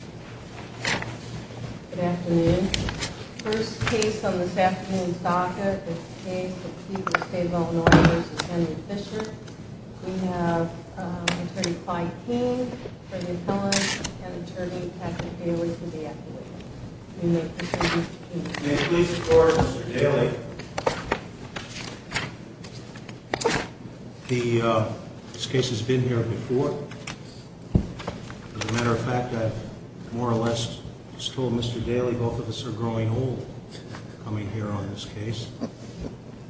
Good afternoon. First case on this afternoon's docket is a case between the State of Illinois v. Henry Fisher. We have Attorney Clyde King for the appellant and Attorney Patrick Daly for the affidavit. May I please record Mr. Daly? This case has been here before. As a matter of fact, I've more or less told Mr. Daly both of us are growing old coming here on this case.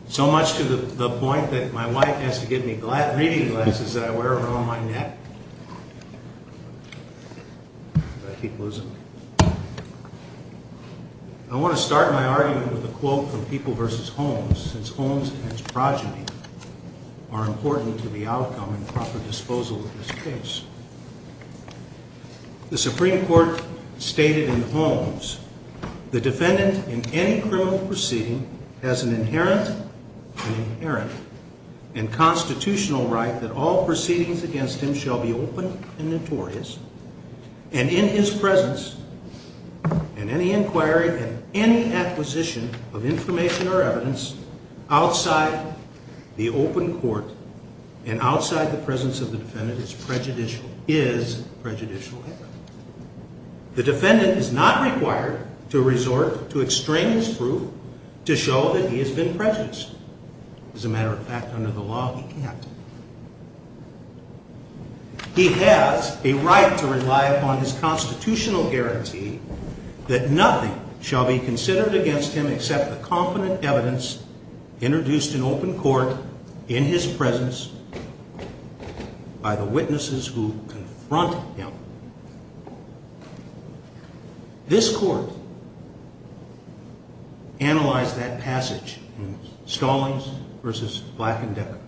So much to the point that my wife has to give me reading glasses that I wear around my neck. I want to start my argument with a quote from People v. Holmes, since Holmes and his progeny are important to the outcome and proper disposal of this case. The Supreme Court stated in Holmes, the defendant in any criminal proceeding has an inherent and constitutional right that all proceedings against him shall be open and notorious and in his presence and any inquiry and any acquisition of information or evidence outside the open court and outside the presence of the defendant is prejudicial. The defendant is not required to resort to extraneous proof to show that he has been prejudiced. As a matter of fact, under the law, he can't. He has a right to rely upon his constitutional guarantee that nothing shall be considered against him except the confident evidence introduced in open court, in his presence, by the witnesses who are present. The defendant has the right to confront him. This court analyzed that passage in Stallings v. Black and Decker.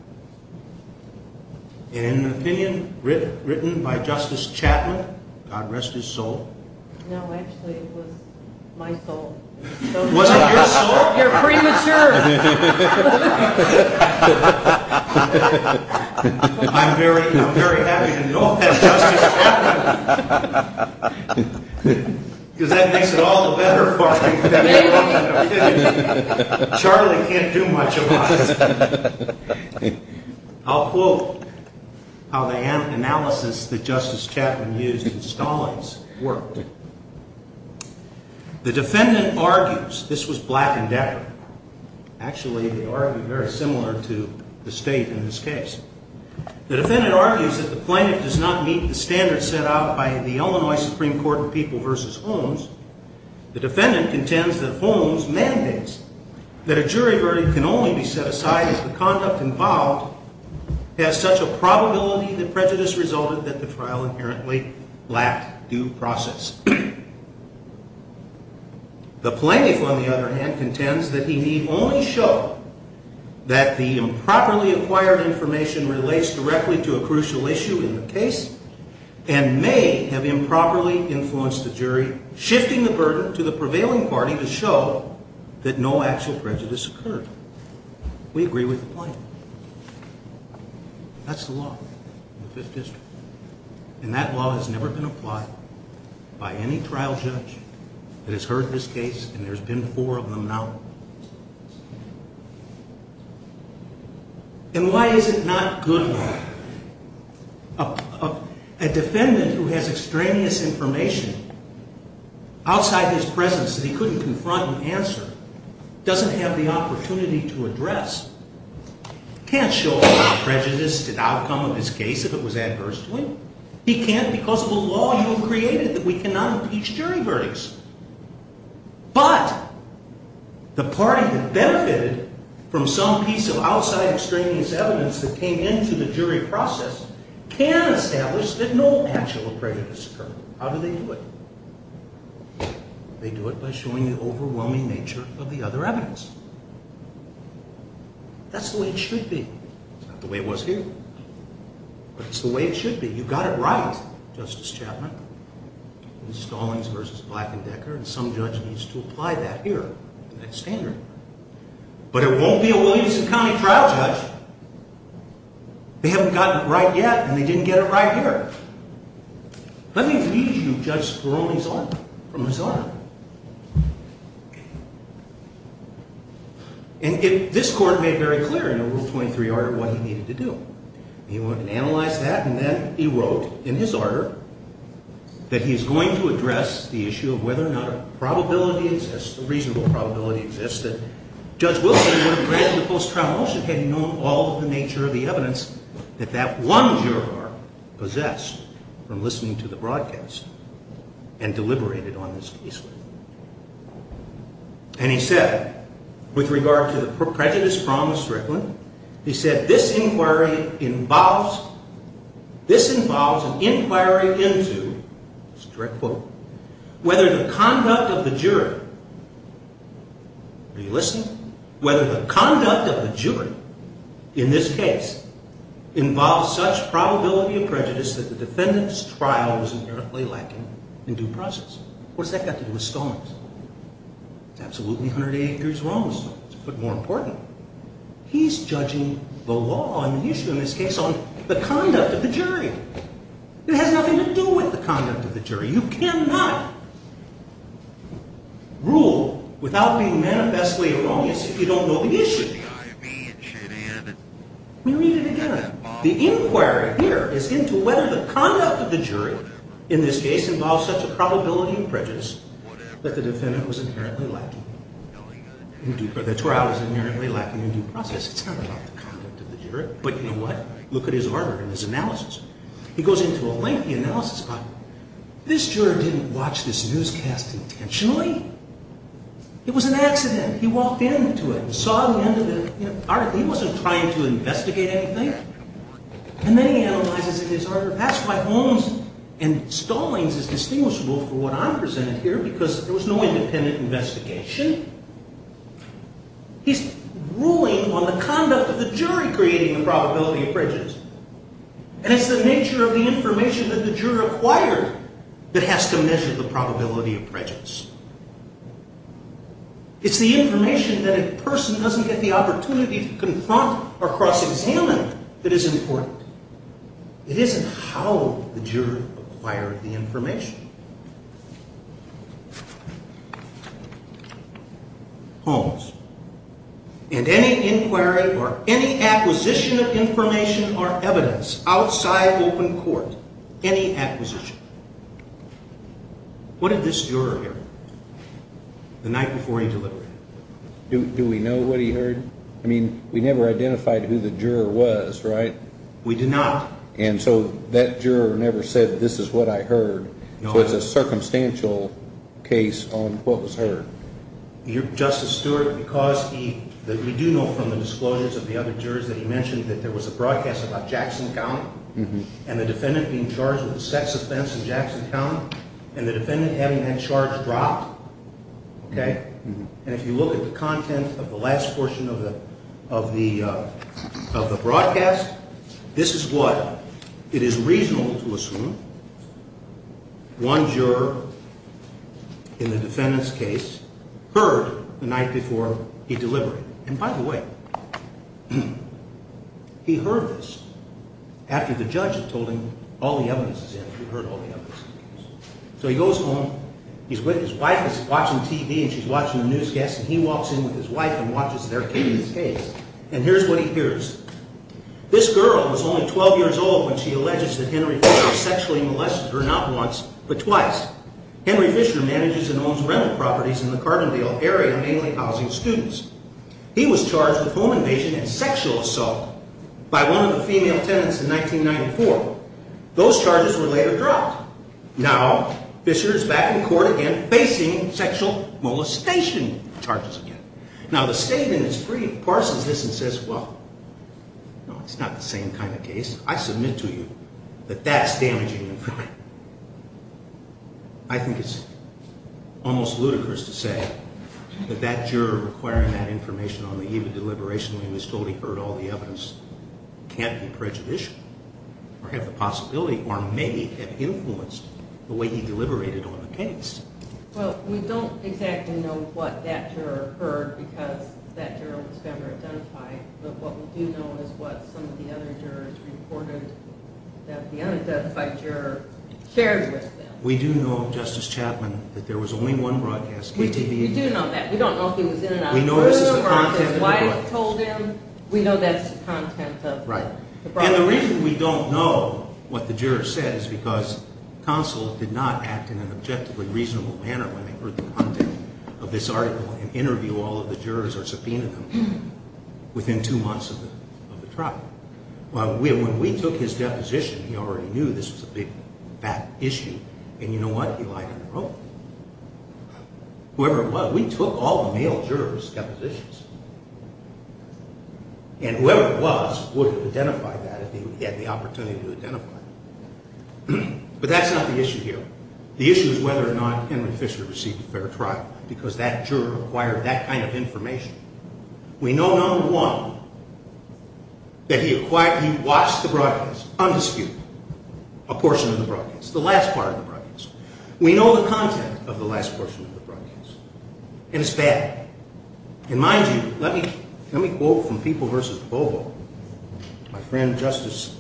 In an opinion written by Justice Chapman, God rest his soul. No, actually it was my soul. Was it your soul? You're premature. I'm very happy to know that, Justice Chapman, because that makes it all the better for me. Charlie can't do much about it. I'll quote how the analysis that Justice Chapman used in Stallings worked. The defendant argues, this was Black and Decker, actually they argue very similar to the state in this case. The defendant argues that the plaintiff does not meet the standards set out by the Illinois Supreme Court in People v. Holmes. The defendant contends that Holmes mandates that a jury verdict can only be set aside if the conduct involved has such a probability that prejudice resulted that the trial inherently lacked due process. The plaintiff, on the other hand, contends that he need only show that the improperly acquired information relates directly to a crucial issue in the case and may have improperly influenced the jury, shifting the burden to the prevailing party to show that no actual prejudice occurred. We agree with the plaintiff. That's the law in the Fifth District. And that law has never been applied by any trial judge that has heard this case, and there's been four of them now. And why is it not good law? A defendant who has extraneous information outside his presence that he couldn't confront and answer doesn't have the opportunity to address. He can't show a prejudice to the outcome of his case if it was adverse to him. He can't because of the law you have created that we cannot impeach jury verdicts. But the party that benefited from some piece of outside extraneous evidence that came into the jury process can establish that no actual prejudice occurred. How do they do it? They do it by showing the overwhelming nature of the other evidence. That's the way it should be. It's not the way it was here. But it's the way it should be. You got it right, Justice Chapman. But it won't be a Williamson County trial judge. They haven't gotten it right yet, and they didn't get it right here. Let me read you Judge Spironi's article from his article. And this court made very clear in Rule 23 what he needed to do. He went and analyzed that, and then he wrote in his order that he is going to address the issue of whether or not a probability exists, a reasonable probability exists, that Judge Wilson would have granted a post-trial motion had he known all of the nature of the evidence that that one juror possessed from listening to the broadcast and deliberated on this case. And he said, with regard to the prejudice from the Strickland, he said, this inquiry involves, this involves an inquiry into, it's a direct quote, whether the conduct of the jury, are you listening, whether the conduct of the jury in this case involves such probability of prejudice that the defendant's trial was inherently lacking in due process. What's that got to do with Stallings? It's absolutely 180 years wrong, Stallings, but more important, he's judging the law and the issue in this case on the conduct of the jury. It has nothing to do with the conduct of the jury. You cannot rule without being manifestly erroneous if you don't know the issue. Let me read it again. The inquiry here is into whether the conduct of the jury in this case involves such a probability of prejudice that the defendant was inherently lacking in due process. That's where I was inherently lacking in due process. It's not about the conduct of the jury, but you know what, look at his order and his analysis. He goes into a lengthy analysis about it. This juror didn't watch this newscast intentionally. It was an accident. He walked into it and saw the end of it. He wasn't trying to investigate anything. And then he analyzes it in his order. That's why Holmes and Stallings is distinguishable for what I'm presenting here because there was no independent investigation. He's ruling on the conduct of the jury creating the probability of prejudice. And it's the nature of the information that the juror acquired that has to measure the probability of prejudice. It's the information that a person doesn't get the opportunity to confront or cross-examine that is important. It isn't how the juror acquired the information. Holmes, in any inquiry or any acquisition of information or evidence outside open court, any acquisition, what did this juror hear? The night before he deliberated. Do we know what he heard? I mean, we never identified who the juror was, right? We did not. And so that juror never said, this is what I heard. So it's a circumstantial case on what was heard. Justice Stewart, because we do know from the disclosures of the other jurors that he mentioned that there was a broadcast about Jackson County and the defendant being charged with a sex offense in Jackson County and the defendant having that charge dropped, okay? And if you look at the content of the last portion of the broadcast, this is what it is reasonable to assume one juror in the defendant's case heard the night before he deliberated. And by the way, he heard this after the judge had told him all the evidence is in. He heard all the evidence. So he goes home. His wife is watching TV and she's watching the newscast and he walks in with his wife and watches their case. And here's what he hears. This girl was only 12 years old when she alleges that Henry Fisher sexually molested her not once, but twice. Henry Fisher manages and owns rental properties in the Carbondale area, mainly housing students. He was charged with home invasion and sexual assault by one of the female tenants in 1994. Those charges were later dropped. Now Fisher is back in court again facing sexual molestation charges again. Now the state in its brief parses this and says, well, no, it's not the same kind of case. I submit to you that that's damaging information. I think it's almost ludicrous to say that that juror requiring that information on the eve of deliberation when he was told he heard all the evidence can't be prejudicial or have the possibility or may have influenced the way he deliberated on the case. Well, we don't exactly know what that juror heard because that juror was never identified. But what we do know is what some of the other jurors reported that the unidentified juror shared with them. We do know, Justice Chapman, that there was only one broadcast KTVU. We do know that. We don't know if he was in and out. We know this is the content of the broadcast. We know that's the content of the broadcast. And you know what? He lied on the road. Whoever it was, we took all the male jurors' depositions. And whoever it was would have identified that if he had the opportunity to identify it. But that's not the issue here. The issue is whether or not Henry Fisher received a fair trial because that juror acquired that kind of information. We know, number one, that he watched the broadcast, undisputed, a portion of the broadcast, the last part of the broadcast. We know the content of the last portion of the broadcast. And it's bad. And mind you, let me quote from People v. Bobo, my friend Justice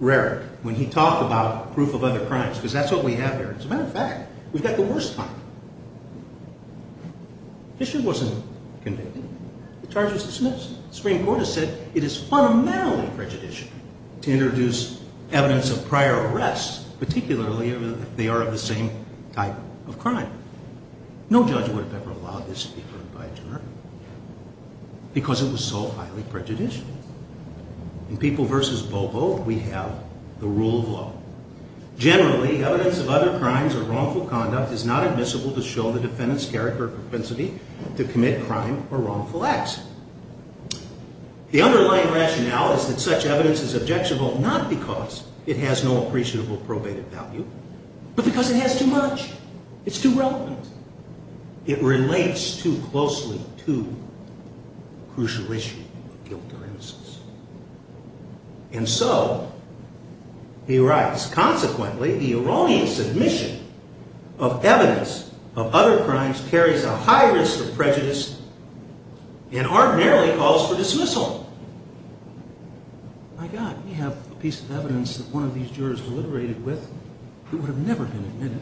Rarick, when he talked about proof of other crimes, because that's what we have here. As a matter of fact, we've got the worst crime. Fisher wasn't convicted. The charge was dismissed. The Supreme Court has said it is fundamentally prejudicial to introduce evidence of prior arrests, particularly if they are of the same type of crime. No judge would have ever allowed this to be heard by a juror because it was so highly prejudicial. In People v. Bobo, we have the rule of law. Generally, evidence of other crimes or wrongful conduct is not admissible to show the defendant's character or propensity to commit crime or wrongful acts. The underlying rationale is that such evidence is objectionable not because it has no appreciable probated value, but because it has too much. It's too relevant. It relates too closely to the crucial issue of guilt or innocence. And so he writes, consequently, the erroneous admission of evidence of other crimes carries a high risk of prejudice and ordinarily calls for dismissal. My God, we have a piece of evidence that one of these jurors deliberated with that would have never been admitted.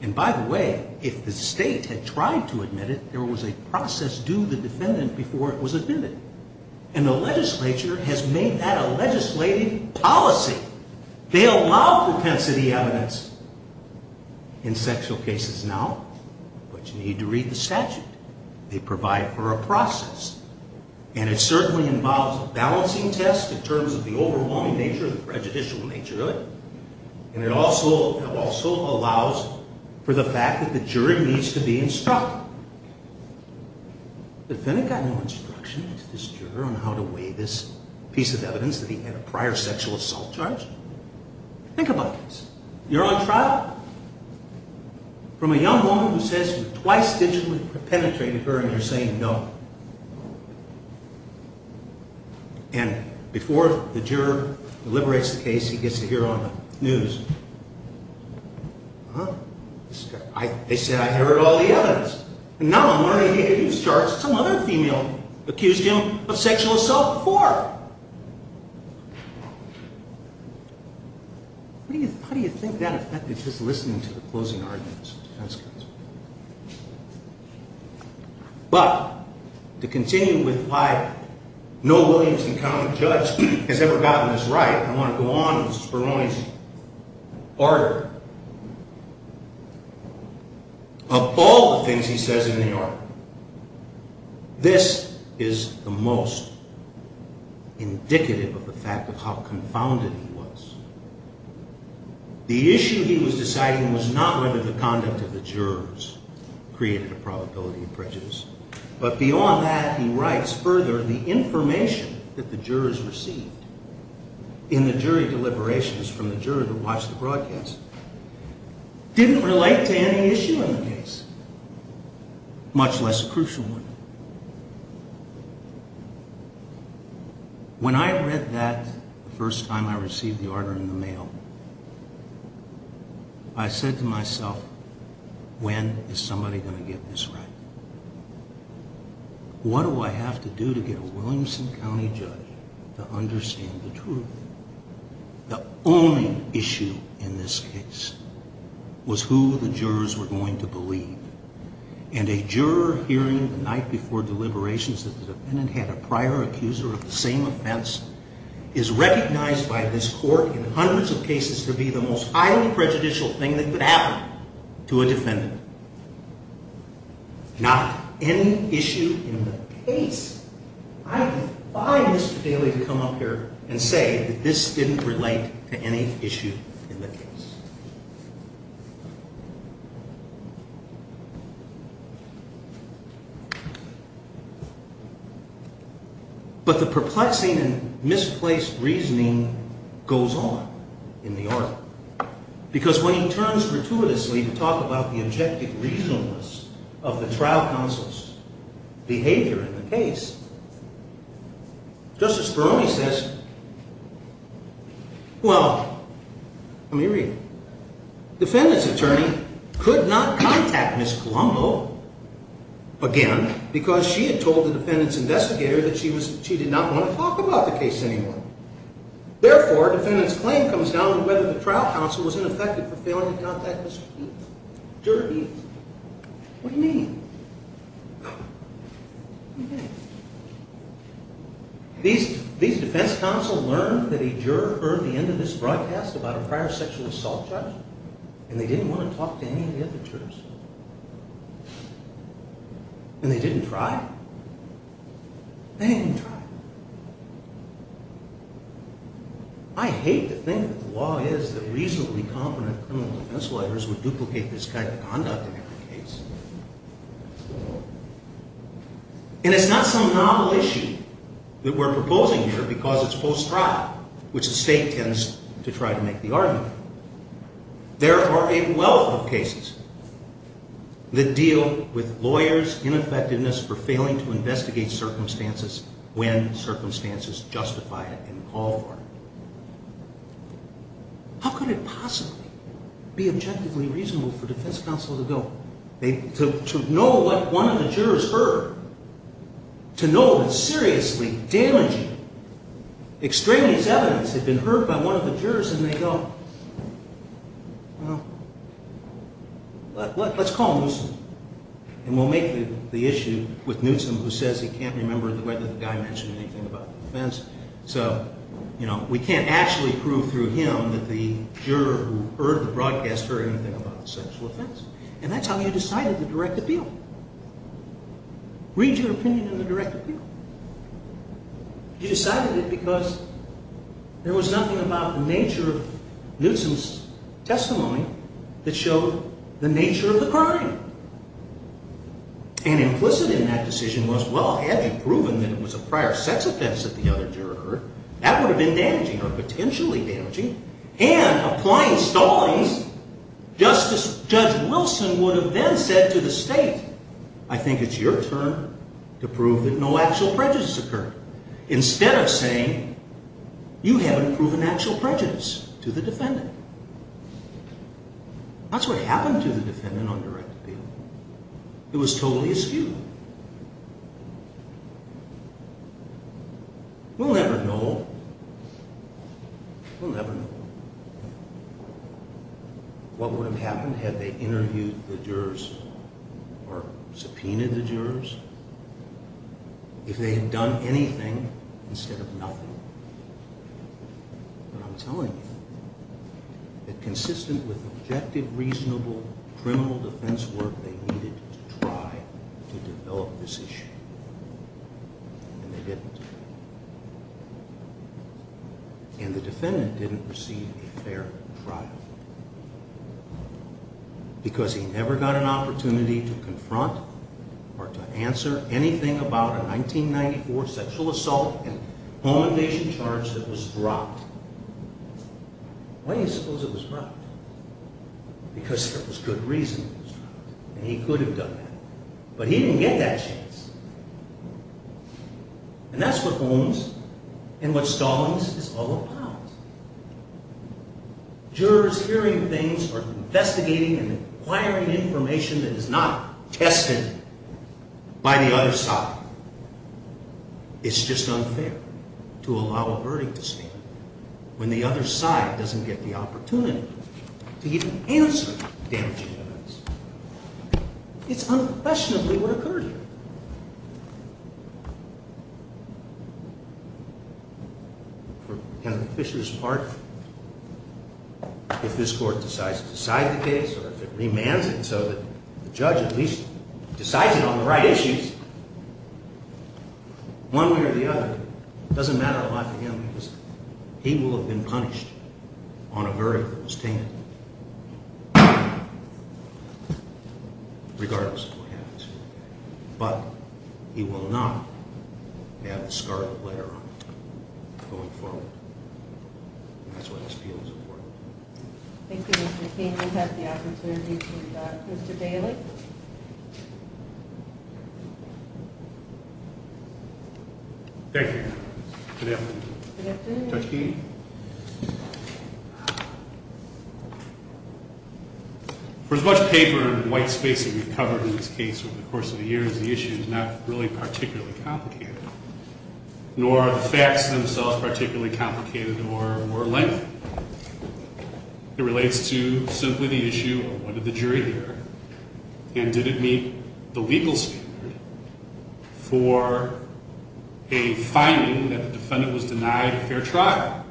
And by the way, if the state had tried to admit it, there was a process due the defendant before it was admitted. And the legislature has made that a legislative policy. They allow propensity evidence in sexual cases now, but you need to read the statute. They provide for a process. And it certainly involves a balancing test in terms of the overwhelming nature of the prejudicial nature of it. And it also allows for the fact that the jury needs to be instructed. The defendant got no instruction from this juror on how to weigh this piece of evidence that he had a prior sexual assault charge. Think about this. You're on trial. From a young woman who says you've twice digitally penetrated her and you're saying no. And before the juror deliberates the case, he gets to hear on the news. Huh? They said, I heard all the evidence. And now I'm learning he had used charges some other female accused him of sexual assault before. How do you think that affected his listening to the closing arguments? But to continue with why no Williams County judge has ever gotten this right, I want to go on with Speroni's order. Of all the things he says in the order, this is the most indicative of the fact of how confounded he was. The issue he was deciding was not whether the conduct of the jurors created a probability of prejudice. But beyond that, he writes further, the information that the jurors received in the jury deliberations from the juror that watched the broadcast didn't relate to any issue in the case, much less a crucial one. When I read that the first time I received the order in the mail, I said to myself, when is somebody going to get this right? What do I have to do to get a Williamson County judge to understand the truth? The only issue in this case was who the jurors were going to believe. And a juror hearing the night before deliberations that the defendant had a prior accuser of the same offense is recognized by this court in hundreds of cases to be the most highly prejudicial thing that could happen to a defendant. Not any issue in the case. I defy Mr. Daley to come up here and say that this didn't relate to any issue in the case. But the perplexing and misplaced reasoning goes on in the article. Because when he turns gratuitously to talk about the objective reasonableness of the trial counsel's behavior in the case, Justice Ferroni says, well, let me read it. Defendant's attorney could not contact Ms. Colombo again because she had told the defendant's investigator that she did not want to talk about the case anymore. Therefore, defendant's claim comes down to whether the trial counsel was ineffective for failing to contact Ms. Eaths. What do you mean? These defense counsel learned that a juror heard the end of this broadcast about a prior sexual assault judge, and they didn't want to talk to any of the other jurors. And they didn't try. They didn't try. I hate to think that the law is that reasonably competent criminal defense lawyers would duplicate this kind of conduct in every case. And it's not some novel issue that we're proposing here because it's post-trial, which the state tends to try to make the argument. There are a wealth of cases that deal with lawyers' ineffectiveness for failing to investigate circumstances when circumstances justify it and call for it. How could it possibly be objectively reasonable for defense counsel to know what one of the jurors heard? To know that seriously damaging extremist evidence had been heard by one of the jurors, and they go, well, let's call Newsom, and we'll make the issue with Newsom, who says he can't remember whether the guy mentioned anything about the offense. So we can't actually prove through him that the juror who heard the broadcast heard anything about the sexual offense. And that's how you decided the direct appeal. Read your opinion in the direct appeal. You decided it because there was nothing about the nature of Newsom's testimony that showed the nature of the crime. And implicit in that decision was, well, had you proven that it was a prior sex offense that the other juror heard, that would have been damaging or potentially damaging. And applying Stallings, Judge Wilson would have then said to the state, I think it's your turn to prove that no actual prejudice occurred, instead of saying, you haven't proven actual prejudice to the defendant. That's what happened to the defendant on direct appeal. It was totally askew. We'll never know. We'll never know. What would have happened had they interviewed the jurors or subpoenaed the jurors, if they had done anything instead of nothing? But I'm telling you that consistent with objective, reasonable criminal defense work, they needed to try to develop this issue. And they didn't. And the defendant didn't receive a fair trial. Because he never got an opportunity to confront or to answer anything about a 1994 sexual assault and homicide charge that was dropped. Why do you suppose it was dropped? Because there was good reason it was dropped. And he could have done that. But he didn't get that chance. And that's what Holmes and what Stallings is all about. Jurors hearing things or investigating and acquiring information that is not tested by the other side. It's just unfair to allow a verdict to stand when the other side doesn't get the opportunity to even answer damaging evidence. It's unquestionably what occurred here. For Ken Fisher's part, if this court decides to decide the case or if it remands it so that the judge at least decides it on the right issues, one way or the other, it doesn't matter a lot to him because he will have been punished on a verdict that was tainted, regardless of what happens. But he will not have the scarlet letter on him going forward. And that's why this appeal is important. Thank you, Mr. King. We have the opportunity to conduct Mr. Daly. Thank you. Good afternoon. Good afternoon. For as much paper and white space that we've covered in this case over the course of the years, the issue is not really particularly complicated, nor are the facts themselves particularly complicated or lengthy. It relates to simply the issue of what did the jury hear and did it meet the legal standard for a finding that the defendant was denied a fair trial?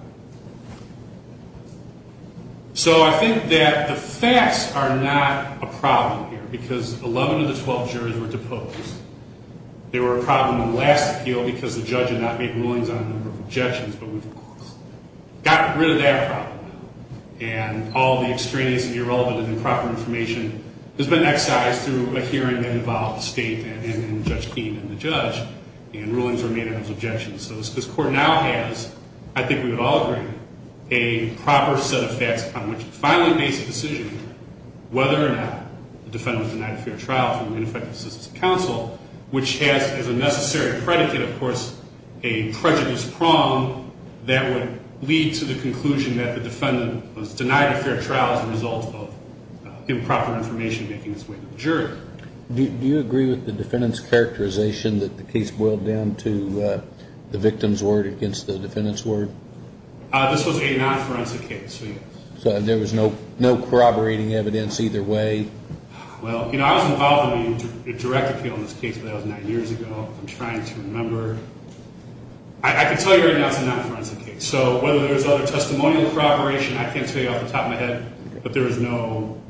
So I think that the facts are not a problem here because 11 of the 12 jurors were deposed. They were a problem in the last appeal because the judge had not made rulings on a number of objections, but we've gotten rid of that problem. And all the extraneous and irrelevant and improper information has been excised through a hearing that involved the state and Judge Keene and the judge, and rulings were made on those objections. So this court now has, I think we would all agree, a proper set of facts on which to finally make a decision whether or not the defendant was denied a fair trial from the ineffective assistance of counsel, which has as a necessary predicate, of course, a prejudice prong that would lead to the conclusion that the defendant was denied a fair trial as a result of improper information making its way to the jury. Do you agree with the defendant's characterization that the case boiled down to the victim's word against the defendant's word? This was a non-forensic case. So there was no corroborating evidence either way? Well, you know, I was involved in a direct appeal on this case about nine years ago. I'm trying to remember. I can tell you right now it's a non-forensic case. So whether there was other testimonial corroboration, I can't tell you off the top of my head. But there was no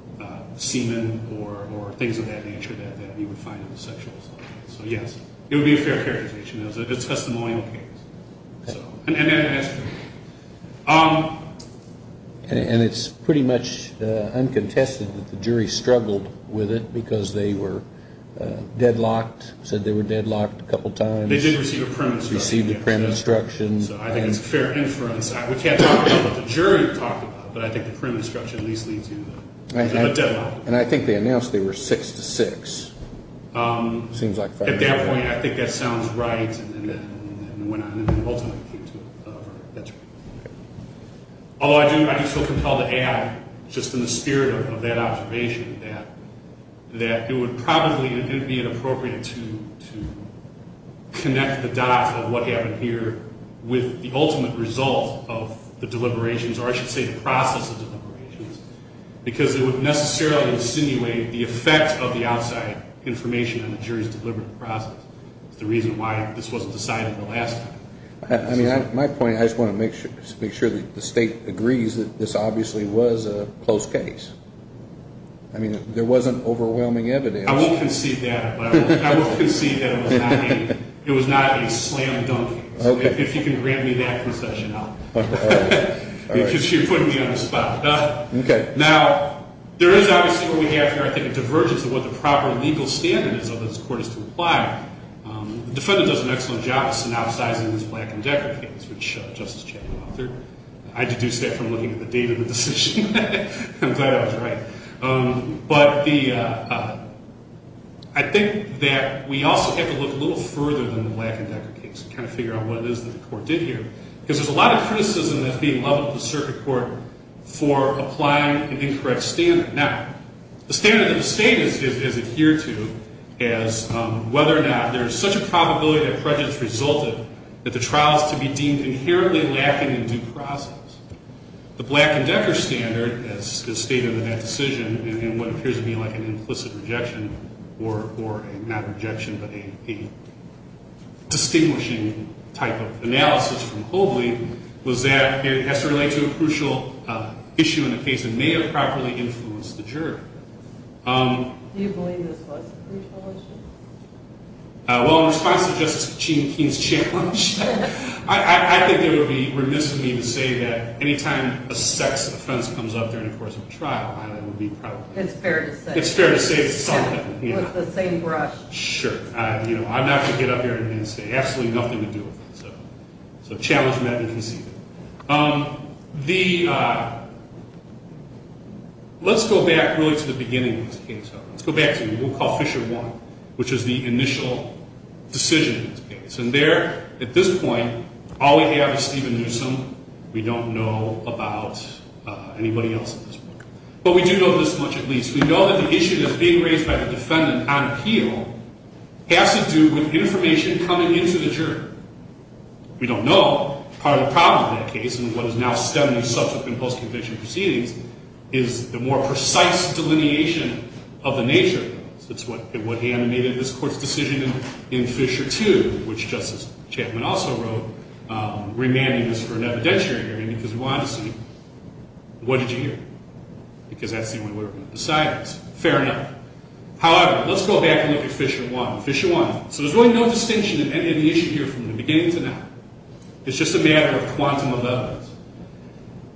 semen or things of that nature that we would find in the sexual assault case. So yes, it would be a fair characterization. It was a testimonial case. And it's pretty much uncontested that the jury struggled with it because they were deadlocked, said they were deadlocked a couple times. They did receive a premise. So I think it's a fair inference. We can't talk about what the jury talked about, but I think the premise at least leads you to a deadlock. And I think they announced they were six to six. It seems like five to six. At that point, I think that sounds right. And it went on and ultimately came to a verdict. That's right. Although I do feel compelled to add, just in the spirit of that observation, that it would probably be inappropriate to connect the dots of what happened here with the ultimate result of the deliberations, or I should say the process of deliberations, because it would necessarily insinuate the effect of the outside information on the jury's deliberate process. It's the reason why this wasn't decided the last time. I mean, my point, I just want to make sure that the State agrees that this obviously was a closed case. I mean, there wasn't overwhelming evidence. I won't concede that. I won't concede that it was not a slam dunk case. If you can grant me that concession, I'll... All right. Because you're putting me on the spot. Okay. Now, there is obviously what we have here, I think, a divergence of what the proper legal standard is of this court is to apply. The defendant does an excellent job of synopsizing this Black and Decker case, which Justice Chattanooga authored. I deduce that from looking at the date of the decision. I'm glad I was right. But the... I think that we also have to look a little further than the Black and Decker case and kind of figure out what it is that the court did here. Because there's a lot of criticism that's being leveled at the circuit court for applying an incorrect standard. Now, the standard that the State has adhered to is whether or not there's such a probability that prejudice resulted that the trial is to be deemed inherently lacking in due process. The Black and Decker standard, as stated in that decision, in what appears to be like an implicit rejection, or a not rejection, but a distinguishing type of analysis from Hobley, was that it has to relate to a crucial issue in the case and may have properly influenced the jury. Do you believe this was a crucial issue? Well, in response to Justice Kachin-Keene's challenge, I think it would be remiss of me to say that any time a sex offense comes up during the course of a trial, I would be proud of it. It's fair to say. It's fair to say it's something. With the same brush. Sure. I'm not going to get up here and say absolutely nothing to do with that. So challenge met and conceded. The... Let's go back really to the beginning of this case, though. Let's go back to what we'll call Fisher 1, which is the initial decision in this case. And there, at this point, all we have is Stephen Newsom. We don't know about anybody else in this book. But we do know this much, at least. We know that the issue that's being raised by the defendant on appeal has to do with information coming into the jury. We don't know. Part of the problem in that case, and what is now stemming subsequent post-conviction proceedings, is the more precise delineation of the nature of this. It's what animated this court's decision in Fisher 2, which Justice Chapman also wrote, remanding this for an evidentiary hearing because we wanted to see, what did you hear? Because that's the one we were going to decide on. Fair enough. However, let's go back and look at Fisher 1. Fisher 1. So there's really no distinction in the issue here from the beginning to now. It's just a matter of quantum of evidence.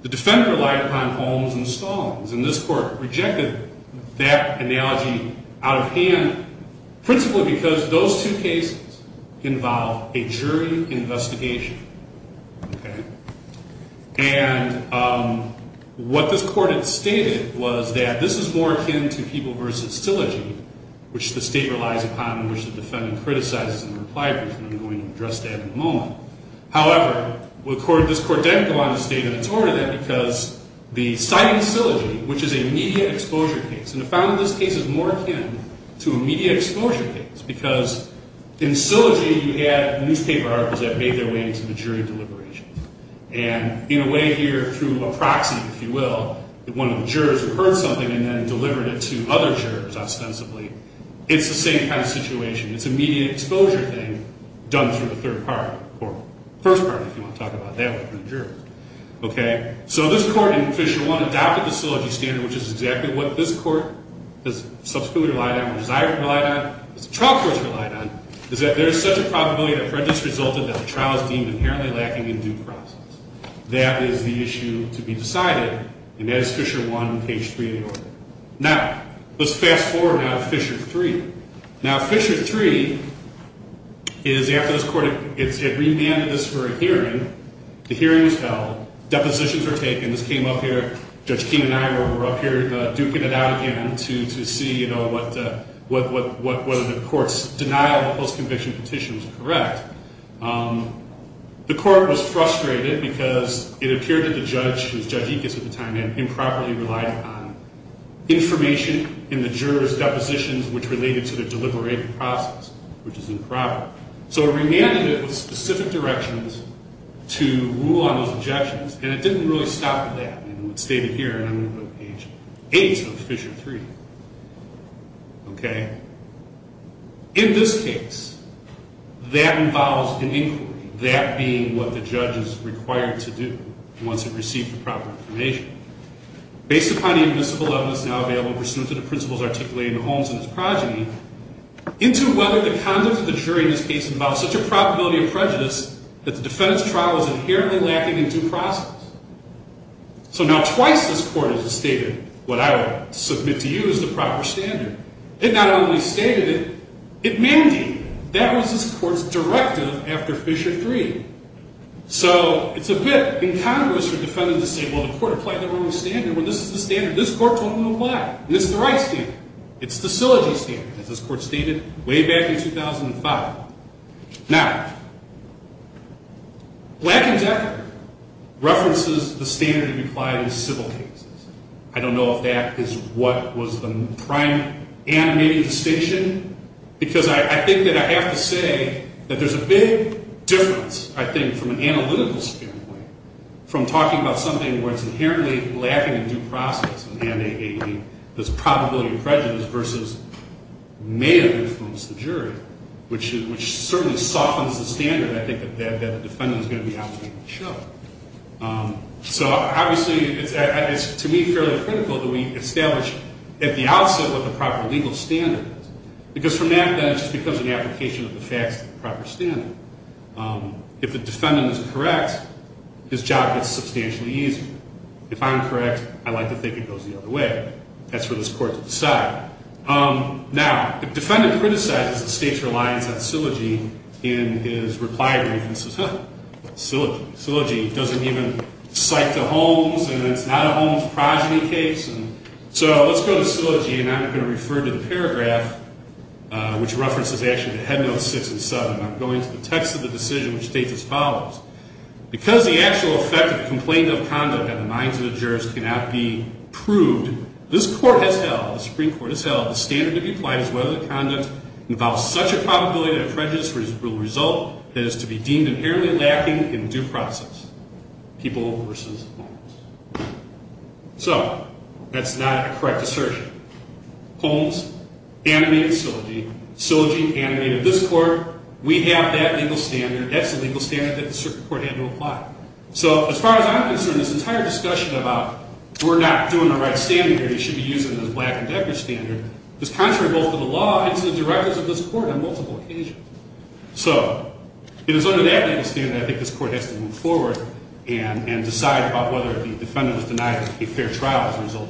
The defendant relied upon Holmes and Stallings. And this court rejected that analogy out of hand, principally because those two cases involve a jury investigation. And what this court had stated was that this is more akin to People v. Szilagyi, which the state relies upon and which the defendant criticizes and replies to. And I'm going to address that in a moment. However, this court did go on to state that it's more than that because the sighting of Szilagyi, which is a media exposure case, and the founding of this case is more akin to a media exposure case. Because in Szilagyi, you had newspaper articles that made their way into the jury deliberations. And in a way here, through a proxy, if you will, one of the jurors heard something and then delivered it to other jurors, ostensibly. It's the same kind of situation. It's a media exposure thing done through the third party, or first party, if you want to talk about it that way, from the jurors. Okay? So this court in Fisher 1 adopted the Szilagyi standard, which is exactly what this court has subsequently relied on, or desired to rely on, as the trial court's relied on, is that there is such a probability that prejudice resulted that the trial is deemed inherently lacking in due process. That is the issue to be decided. And that is Fisher 1, page 3 of the order. Now, let's fast forward now to Fisher 3. Now, Fisher 3 is after this court had remanded this for a hearing. The hearing was held. Depositions were taken. This came up here. Judge King and I were up here duking it out again to see, you know, whether the court's denial of the post-conviction petition was correct. The court was frustrated because it appeared that the judge, who was Judge Ickes at the time, improperly relied on information in the jurors' depositions which related to the deliberative process, which is improper. So it remanded it with specific directions to rule on those objections, and it didn't really stop at that. And it was stated here, and I'm going to go to page 8 of Fisher 3. Okay? In this case, that involves an inquiry, that being what the judge is required to do once it received the proper information. Based upon the invisible evidence now available, pursuant to the principles articulated in the Holmes and his progeny, into whether the conduct of the jury in this case involves such a probability of prejudice that the defendant's trial is inherently lacking in due process. So now twice this court has stated what I will submit to you as the proper standard. It not only stated it, it mandated it. That was this court's directive after Fisher 3. So it's a bit incongruous for defendants to say, well, the court applied the wrong standard. Well, this is the standard this court told them to apply. This is the right standard. It's the syllogy standard, as this court stated way back in 2005. Now, Black and Decker references the standard applied in civil cases. I don't know if that is what was the prime animating distinction, because I think that I have to say that there's a big difference, I think, from an analytical standpoint, from talking about something where it's inherently lacking in due process, and there's probability of prejudice versus may have influenced the jury, which certainly softens the standard, I think, that the defendant is going to be operating to show. So, obviously, it's to me fairly critical that we establish at the outset what the proper legal standard is. Because from that, then, it just becomes an application of the facts to the proper standard. If the defendant is correct, his job gets substantially easier. If I'm correct, I like to think it goes the other way. That's for this court to decide. Now, the defendant criticizes the state's reliance on syllogy in his reply brief and says, huh, syllogy doesn't even cite the Holmes, and it's not a Holmes progeny case. So, let's go to syllogy, and I'm going to refer to the paragraph, which references, actually, to Headnotes 6 and 7. I'm going to the text of the decision, which states as follows. Because the actual effect of complaint of conduct on the minds of the jurors cannot be proved, this court has held, the Supreme Court has held, the standard to be applied is whether the conduct involves such a probability that prejudice will result that it is to be deemed inherently lacking in due process. People versus Holmes. So, that's not a correct assertion. Holmes animated syllogy. Syllogy animated this court. We have that legal standard. That's the legal standard that the Supreme Court had to apply. So, as far as I'm concerned, this entire discussion about we're not doing the right standard here, you should be using the Black and Becker standard, is contrary both to the law and to the directives of this court on multiple occasions. So, it is under that legal standard I think this court has to move forward and decide about whether the defendant was denied a fair trial as a result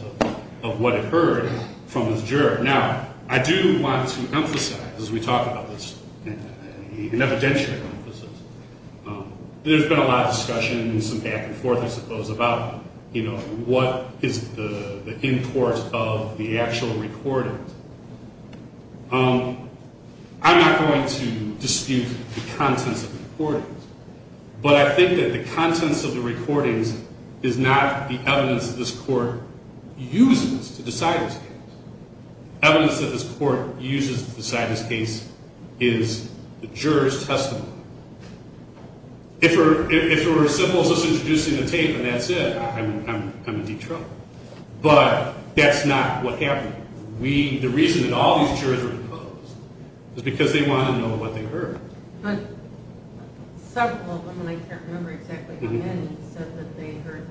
of what occurred from his juror. Now, I do want to emphasize, as we talk about this, an evidential emphasis, there's been a lot of discussion, some back and forth, I suppose, about, you know, what is the import of the actual recording. I'm not going to dispute the contents of the recordings, but I think that the contents of the recordings is not the evidence that this court uses to decide this case. Evidence that this court uses to decide this case is the juror's testimony. If it were as simple as just introducing the tape and that's it, I'm in deep trouble. But that's not what happened. The reason that all these jurors were opposed was because they wanted to know what they heard. But several of them, I can't remember exactly how many, said that they heard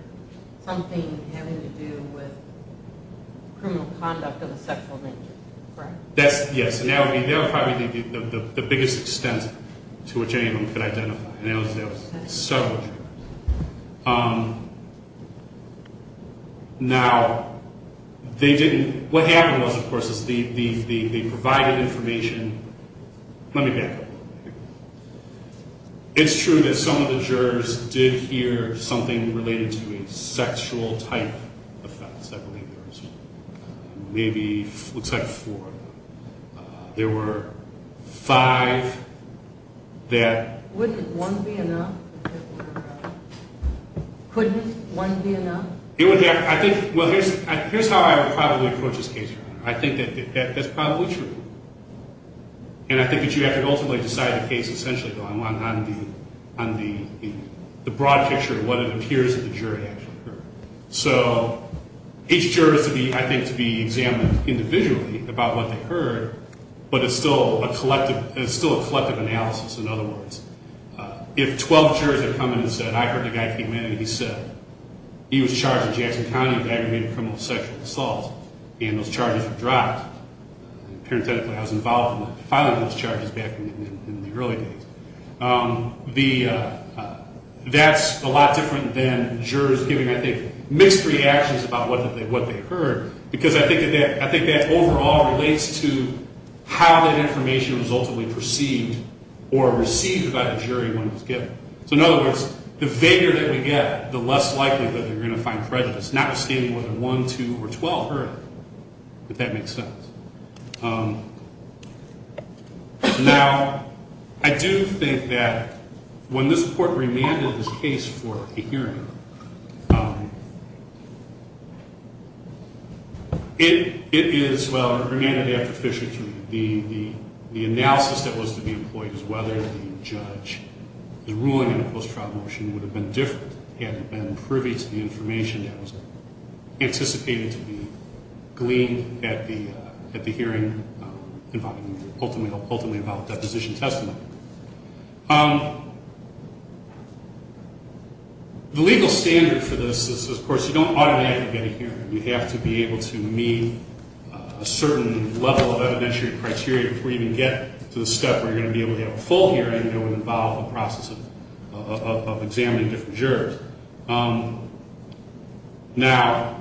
something having to do with criminal conduct of a sexual nature. Yes, and that would be probably the biggest extent to which anyone could identify. And that was several jurors. Now, they didn't, what happened was, of course, is they provided information. Let me back up. It's true that some of the jurors did hear something related to a sexual type offense. I believe there was maybe, looks like four of them. There were five that... Wouldn't one be enough? Couldn't one be enough? I think, well, here's how I would probably approach this case, Your Honor. I think that that's probably true. And I think that you have to ultimately decide the case essentially on the broad picture of what it appears that the jury actually heard. So each juror is, I think, to be examined individually about what they heard, but it's still a collective analysis, in other words. If 12 jurors had come in and said, I heard the guy came in and he said he was charged in Jackson County with aggravated criminal sexual assault, and those charges were dropped, parenthetically I was involved in filing those charges back in the early days. That's a lot different than jurors giving, I think, mixed reactions about what they heard, because I think that overall relates to how that information was ultimately perceived or received by the jury when it was given. So in other words, the vaguer that we get, the less likely that you're going to find prejudice, notwithstanding whether one, two, or 12 heard it, if that makes sense. Now, I do think that when this Court remanded this case for a hearing, it is, well, it was remanded after Fisher III. The analysis that was to be employed was whether the judge, the ruling in the post-trial motion would have been different had it been privy to the information that was anticipated to be gleaned at the hearing, ultimately about deposition testimony. The legal standard for this is, of course, you don't automatically get a hearing. You have to be able to meet a certain level of evidentiary criteria before you even get to the step where you're going to be able to have a full hearing that would involve the process of examining different jurors. Now,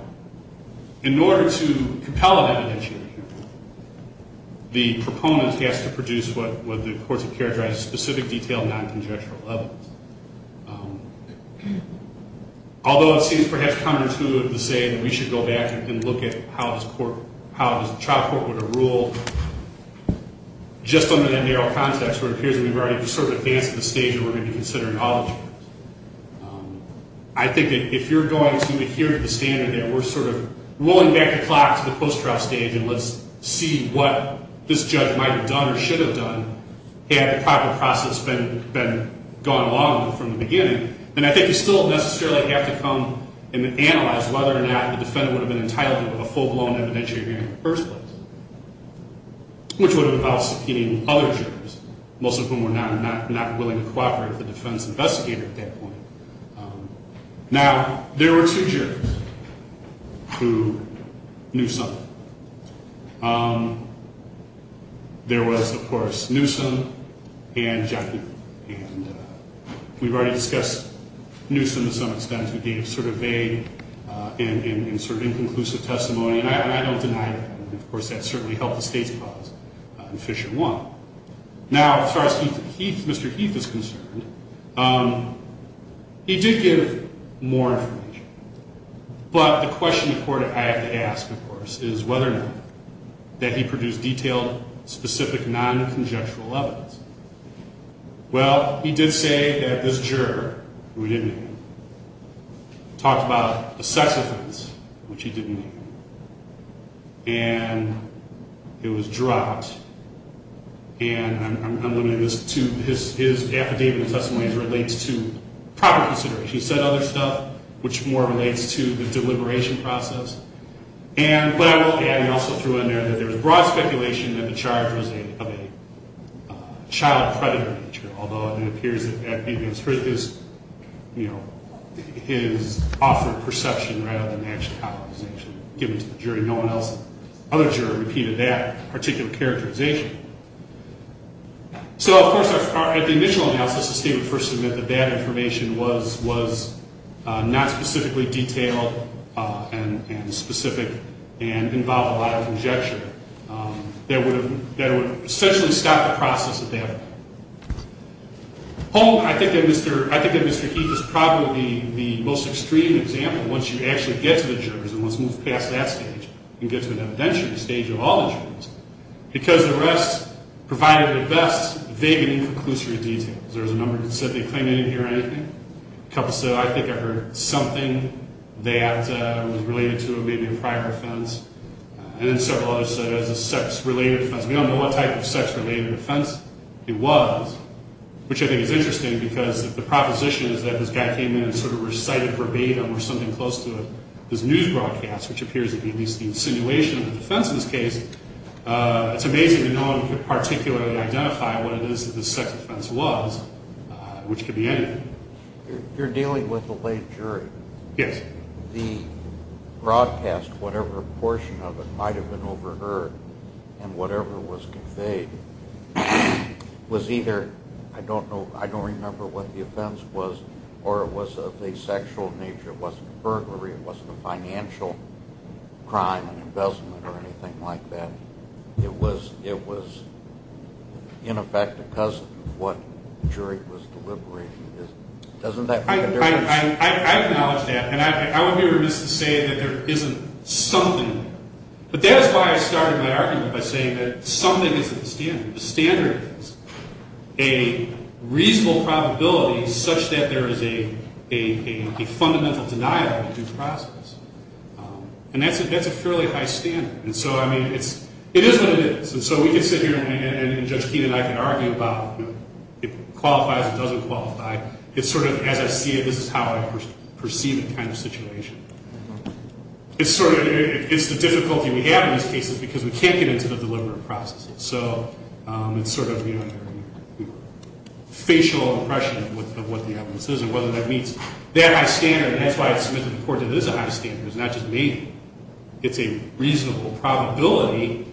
in order to compel an evidentiary hearing, the proponent has to produce what the courts have characterized as specific, detailed, non-conjectural evidence. Although it seems perhaps counterintuitive to say that we should go back and look at how this trial court would have ruled, just under that narrow context where it appears that we've already sort of advanced to the stage where we're going to be considering all the jurors. I think that if you're going to adhere to the standard that we're sort of rolling back the clock to the post-trial stage and let's see what this judge might have done or should have done had the proper process been gone along from the beginning, then I think you still necessarily have to come and analyze whether or not the defendant would have been entitled to a full-blown evidentiary hearing in the first place, which would have involved subpoenaing other jurors, most of whom were not willing to cooperate with the defense investigator at that point. Now, there were two jurors who knew something. There was, of course, Newsom and Jaffee. And we've already discussed Newsom to some extent, who gave sort of vague and sort of inconclusive testimony. And I don't deny that. And, of course, that certainly helped the state's cause in Fisher 1. Now, as far as Mr. Heath is concerned, he did give more information. But the question the court had to ask, of course, is whether or not that he produced detailed, specific, non-conjectual evidence. Well, he did say that this juror, who he didn't name, talked about the sex offense, which he didn't name, and it was dropped. And I'm limiting this to his affidavit of testimony as it relates to proper consideration. He said other stuff, which more relates to the deliberation process. And what I will add, he also threw in there that there was broad speculation that the charge was of a child predator nature, although it appears that that may have been his offered perception rather than actually how it was actually given to the jury. No one else but the other juror repeated that particular characterization. So, of course, at the initial analysis, the state would first admit that that information was not specifically detailed and specific and involved a lot of conjecture that would essentially stop the process at that point. I think that Mr. Heath is probably the most extreme example, once you actually get to the jurors and once you move past that stage and get to an evidentiary stage of all the jurors, because the rest provided the best vague and inconclusive details. There was a number that said they claimed they didn't hear anything. A couple said, I think I heard something that was related to maybe a prior offense. And then several others said it was a sex-related offense. We don't know what type of sex-related offense it was, which I think is interesting because the proposition is that this guy came in and sort of recited verbatim or something close to his news broadcast, which appears to be at least the insinuation of the defense in this case. It's amazing that no one could particularly identify what it is that this sex offense was, which could be anything. You're dealing with a late jury. Yes. The broadcast, whatever portion of it might have been overheard and whatever was conveyed, was either, I don't know, I don't remember what the offense was, or it was of asexual nature. It wasn't a burglary. It wasn't a financial crime, an investment or anything like that. It was, in effect, a cousin of what the jury was deliberating. Doesn't that make a difference? I acknowledge that, and I wouldn't be remiss to say that there isn't something. But that is why I started my argument by saying that something is at the standard. A reasonable probability such that there is a fundamental denial of the due process. And that's a fairly high standard. And so, I mean, it is what it is. And so we can sit here, and Judge Keenan and I can argue about if it qualifies or doesn't qualify. It's sort of, as I see it, this is how I perceive the kind of situation. It's the difficulty we have in these cases because we can't get into the deliberate processes. So it's sort of a facial impression of what the evidence is and whether that meets that high standard. And that's why I submitted the report that it is a high standard. It's not just me. It's a reasonable probability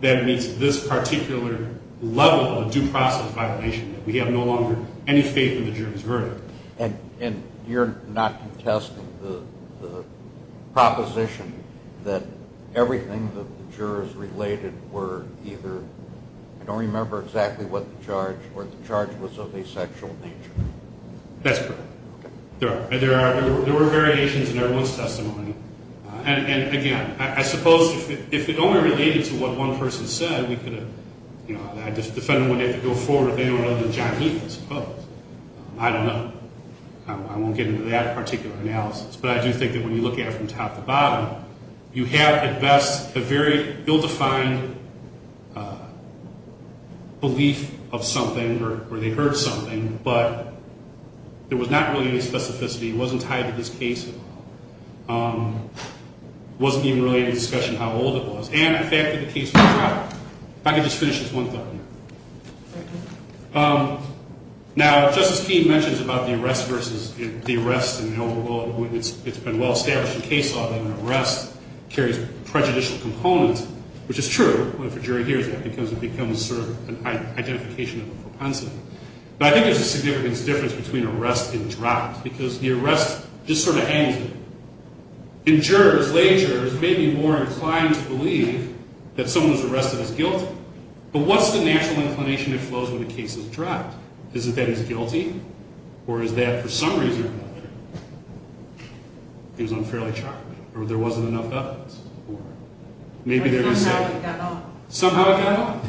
that it meets this particular level of due process violation that we have no longer any faith in the juror's verdict. And you're not contesting the proposition that everything that the jurors related were either, I don't remember exactly what the charge, or the charge was of asexual nature. That's correct. There were variations in everyone's testimony. And, again, I suppose if it only related to what one person said, we could have, you know, I won't get into that particular analysis, but I do think that when you look at it from top to bottom, you have at best a very ill-defined belief of something or they heard something, but there was not really any specificity. It wasn't tied to this case at all. It wasn't even related to the discussion of how old it was. And the fact that the case was dropped. If I could just finish this one thought here. Now, Justice Keene mentions about the arrest versus the arrest in the overall, it's been well-established the case of an arrest carries prejudicial components, which is true, if a jury hears that, because it becomes sort of an identification of a propensity. But I think there's a significant difference between arrest and dropped, because the arrest just sort of hangs there. And jurors, lay jurors, may be more inclined to believe that someone who's arrested is guilty. But what's the natural inclination that flows when a case is dropped? Is it that he's guilty? Or is that, for some reason or another, he was unfairly charged? Or there wasn't enough evidence? Or maybe they're going to say. Somehow it got off. Somehow it got off.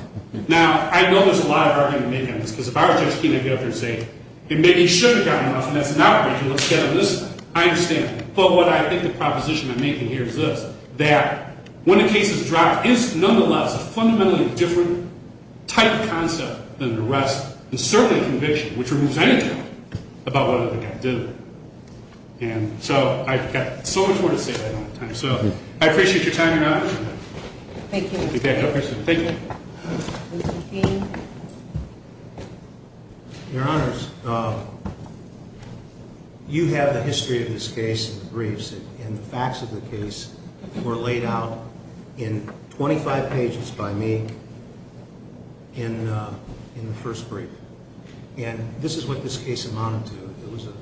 Now, I know there's a lot of argument to make on this, because if I were Justice Keene, I'd get up here and say, it may be should have gotten off, and that's an outrage, and let's get on this side. I understand. But what I think the proposition I'm making here is this, that when a case is dropped, it's nonetheless a fundamentally different type of concept than an arrest, and certainly a conviction, which removes any doubt about whether the guy did it. And so I've got so much more to say, but I don't have time. So I appreciate your time, Your Honor. Thank you. Thank you. Mr. Keene. Your Honors, you have the history of this case and the briefs and the facts of the case were laid out in 25 pages by me in the first brief. And this is what this case amounted to. It was a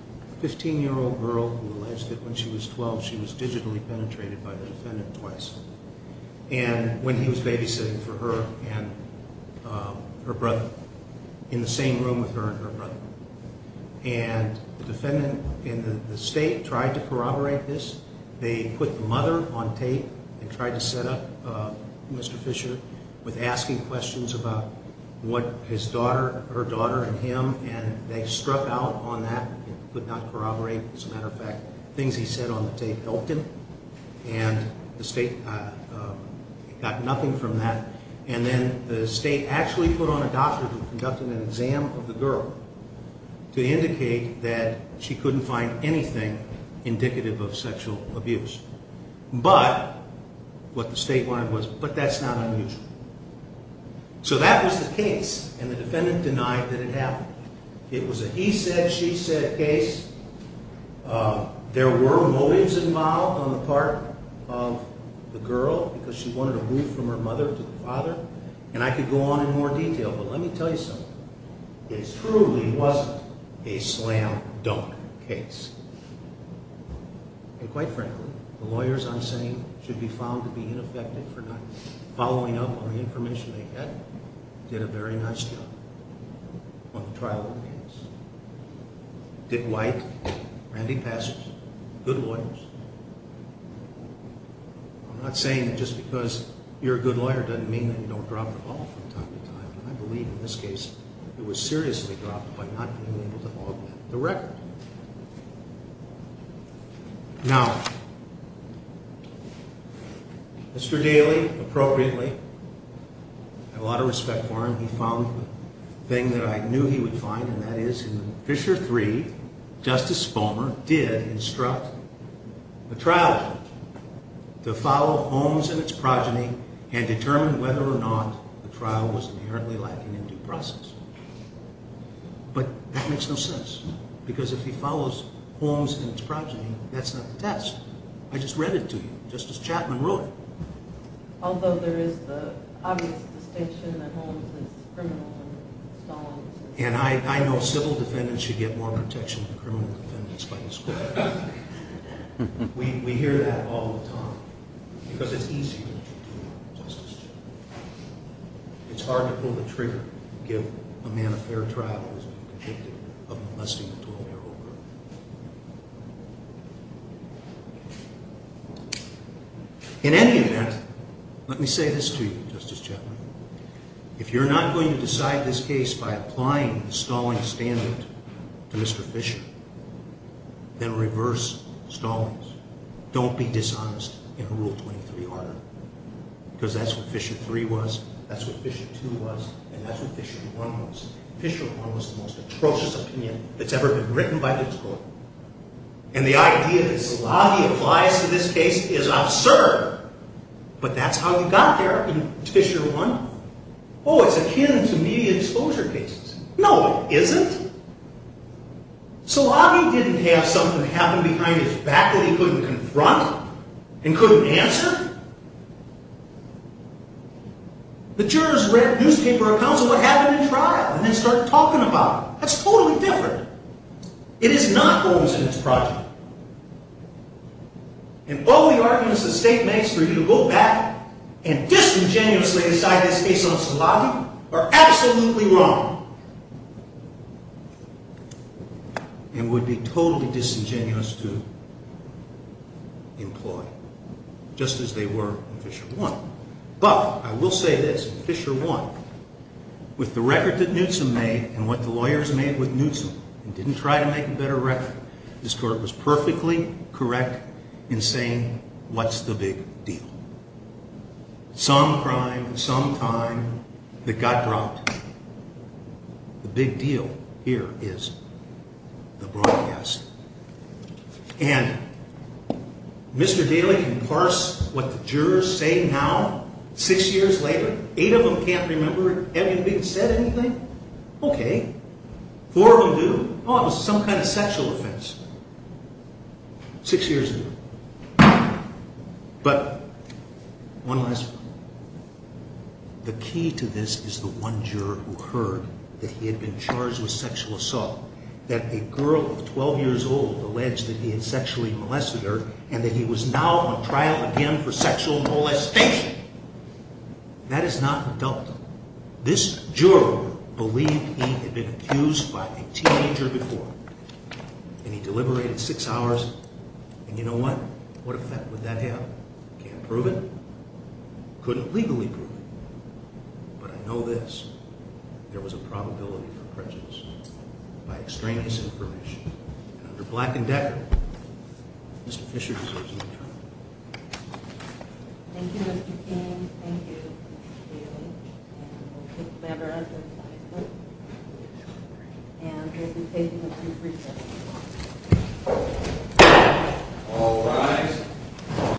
15-year-old girl who alleged that when she was 12, she was digitally penetrated by the defendant twice. And when he was babysitting for her and her brother, in the same room with her and her brother, and the defendant and the state tried to corroborate this. They put the mother on tape and tried to set up Mr. Fisher with asking questions about what his daughter, her daughter, and him, and they struck out on that and could not corroborate. As a matter of fact, things he said on the tape helped him, and the state got nothing from that. And then the state actually put on a doctor who conducted an exam of the girl to indicate that she couldn't find anything indicative of sexual abuse. But, what the state wanted was, but that's not unusual. So that was the case, and the defendant denied that it happened. It was a he said, she said case. There were motives involved on the part of the girl because she wanted to move from her mother to the father, and I could go on in more detail, but let me tell you something. It truly wasn't a slam dunk case. And quite frankly, the lawyers I'm saying should be found to be ineffective for not following up on the information they had, did a very nice job on the trial of the case. Dick White, Randy Passers, good lawyers. I'm not saying that just because you're a good lawyer doesn't mean that you don't drop the ball from time to time. I believe in this case, it was seriously dropped by not being able to log the record. Now, Mr. Daly, appropriately, I have a lot of respect for him. He found the thing that I knew he would find, and that is in Fisher III, Justice Fulmer did instruct the trial to follow Holmes and its progeny and determine whether or not the trial was inherently lacking in due process. But that makes no sense because if he follows Holmes and its progeny, that's not the test. I just read it to you, Justice Chapman wrote it. Although there is the obvious distinction that Holmes is criminal and Stalin is not. And I know civil defendants should get more protection than criminal defendants by this court. We hear that all the time because it's easier to do that, Justice Chapman. It's hard to pull the trigger and give a man a fair trial who has been convicted of molesting a 12-year-old girl. In any event, let me say this to you, Justice Chapman. If you're not going to decide this case by applying the Stalin standard to Mr. Fisher, then reverse Stalin's. Don't be dishonest in Rule 23, Arthur, because that's what Fisher III was, that's what Fisher II was, and that's what Fisher I was. Fisher I was the most atrocious opinion that's ever been written by this court. And the idea that Zalabi applies to this case is absurd, but that's how he got there in Fisher I. Oh, it's akin to media exposure cases. No, it isn't. Zalabi didn't have something happen behind his back that he couldn't confront and couldn't answer. The jurors read newspaper accounts of what happened in trial and then start talking about it. That's totally different. It is not Holmes and his project. And all the arguments the state makes for you to go back and disingenuously decide this case on Zalabi are absolutely wrong. And would be totally disingenuous to employ, just as they were in Fisher I. But I will say this, in Fisher I, with the record that Newsom made and what the lawyers made with Newsom, and didn't try to make a better record, this court was perfectly correct in saying, what's the big deal? Some crime, some time, that got dropped. The big deal here is the broadcast. And Mr. Daly can parse what the jurors say now, six years later, eight of them can't remember, have you been said anything? Okay. Four of them do. Oh, it was some kind of sexual offense, six years ago. But one last one. The key to this is the one juror who heard that he had been charged with sexual assault, that a girl of 12 years old alleged that he had sexually molested her and that he was now on trial again for sexual molestation. That is not adult. This juror believed he had been accused by a teenager before. And he deliberated six hours, and you know what? What effect would that have? Can't prove it. Couldn't legally prove it. But I know this, there was a probability for prejudice by extraneous information. And under Black and Decker, Mr. Fisher deserves no trial. Thank you, Mr. King. Thank you, Mr. Daly. And we'll take matters as they stand. And we'll be taking a brief recess.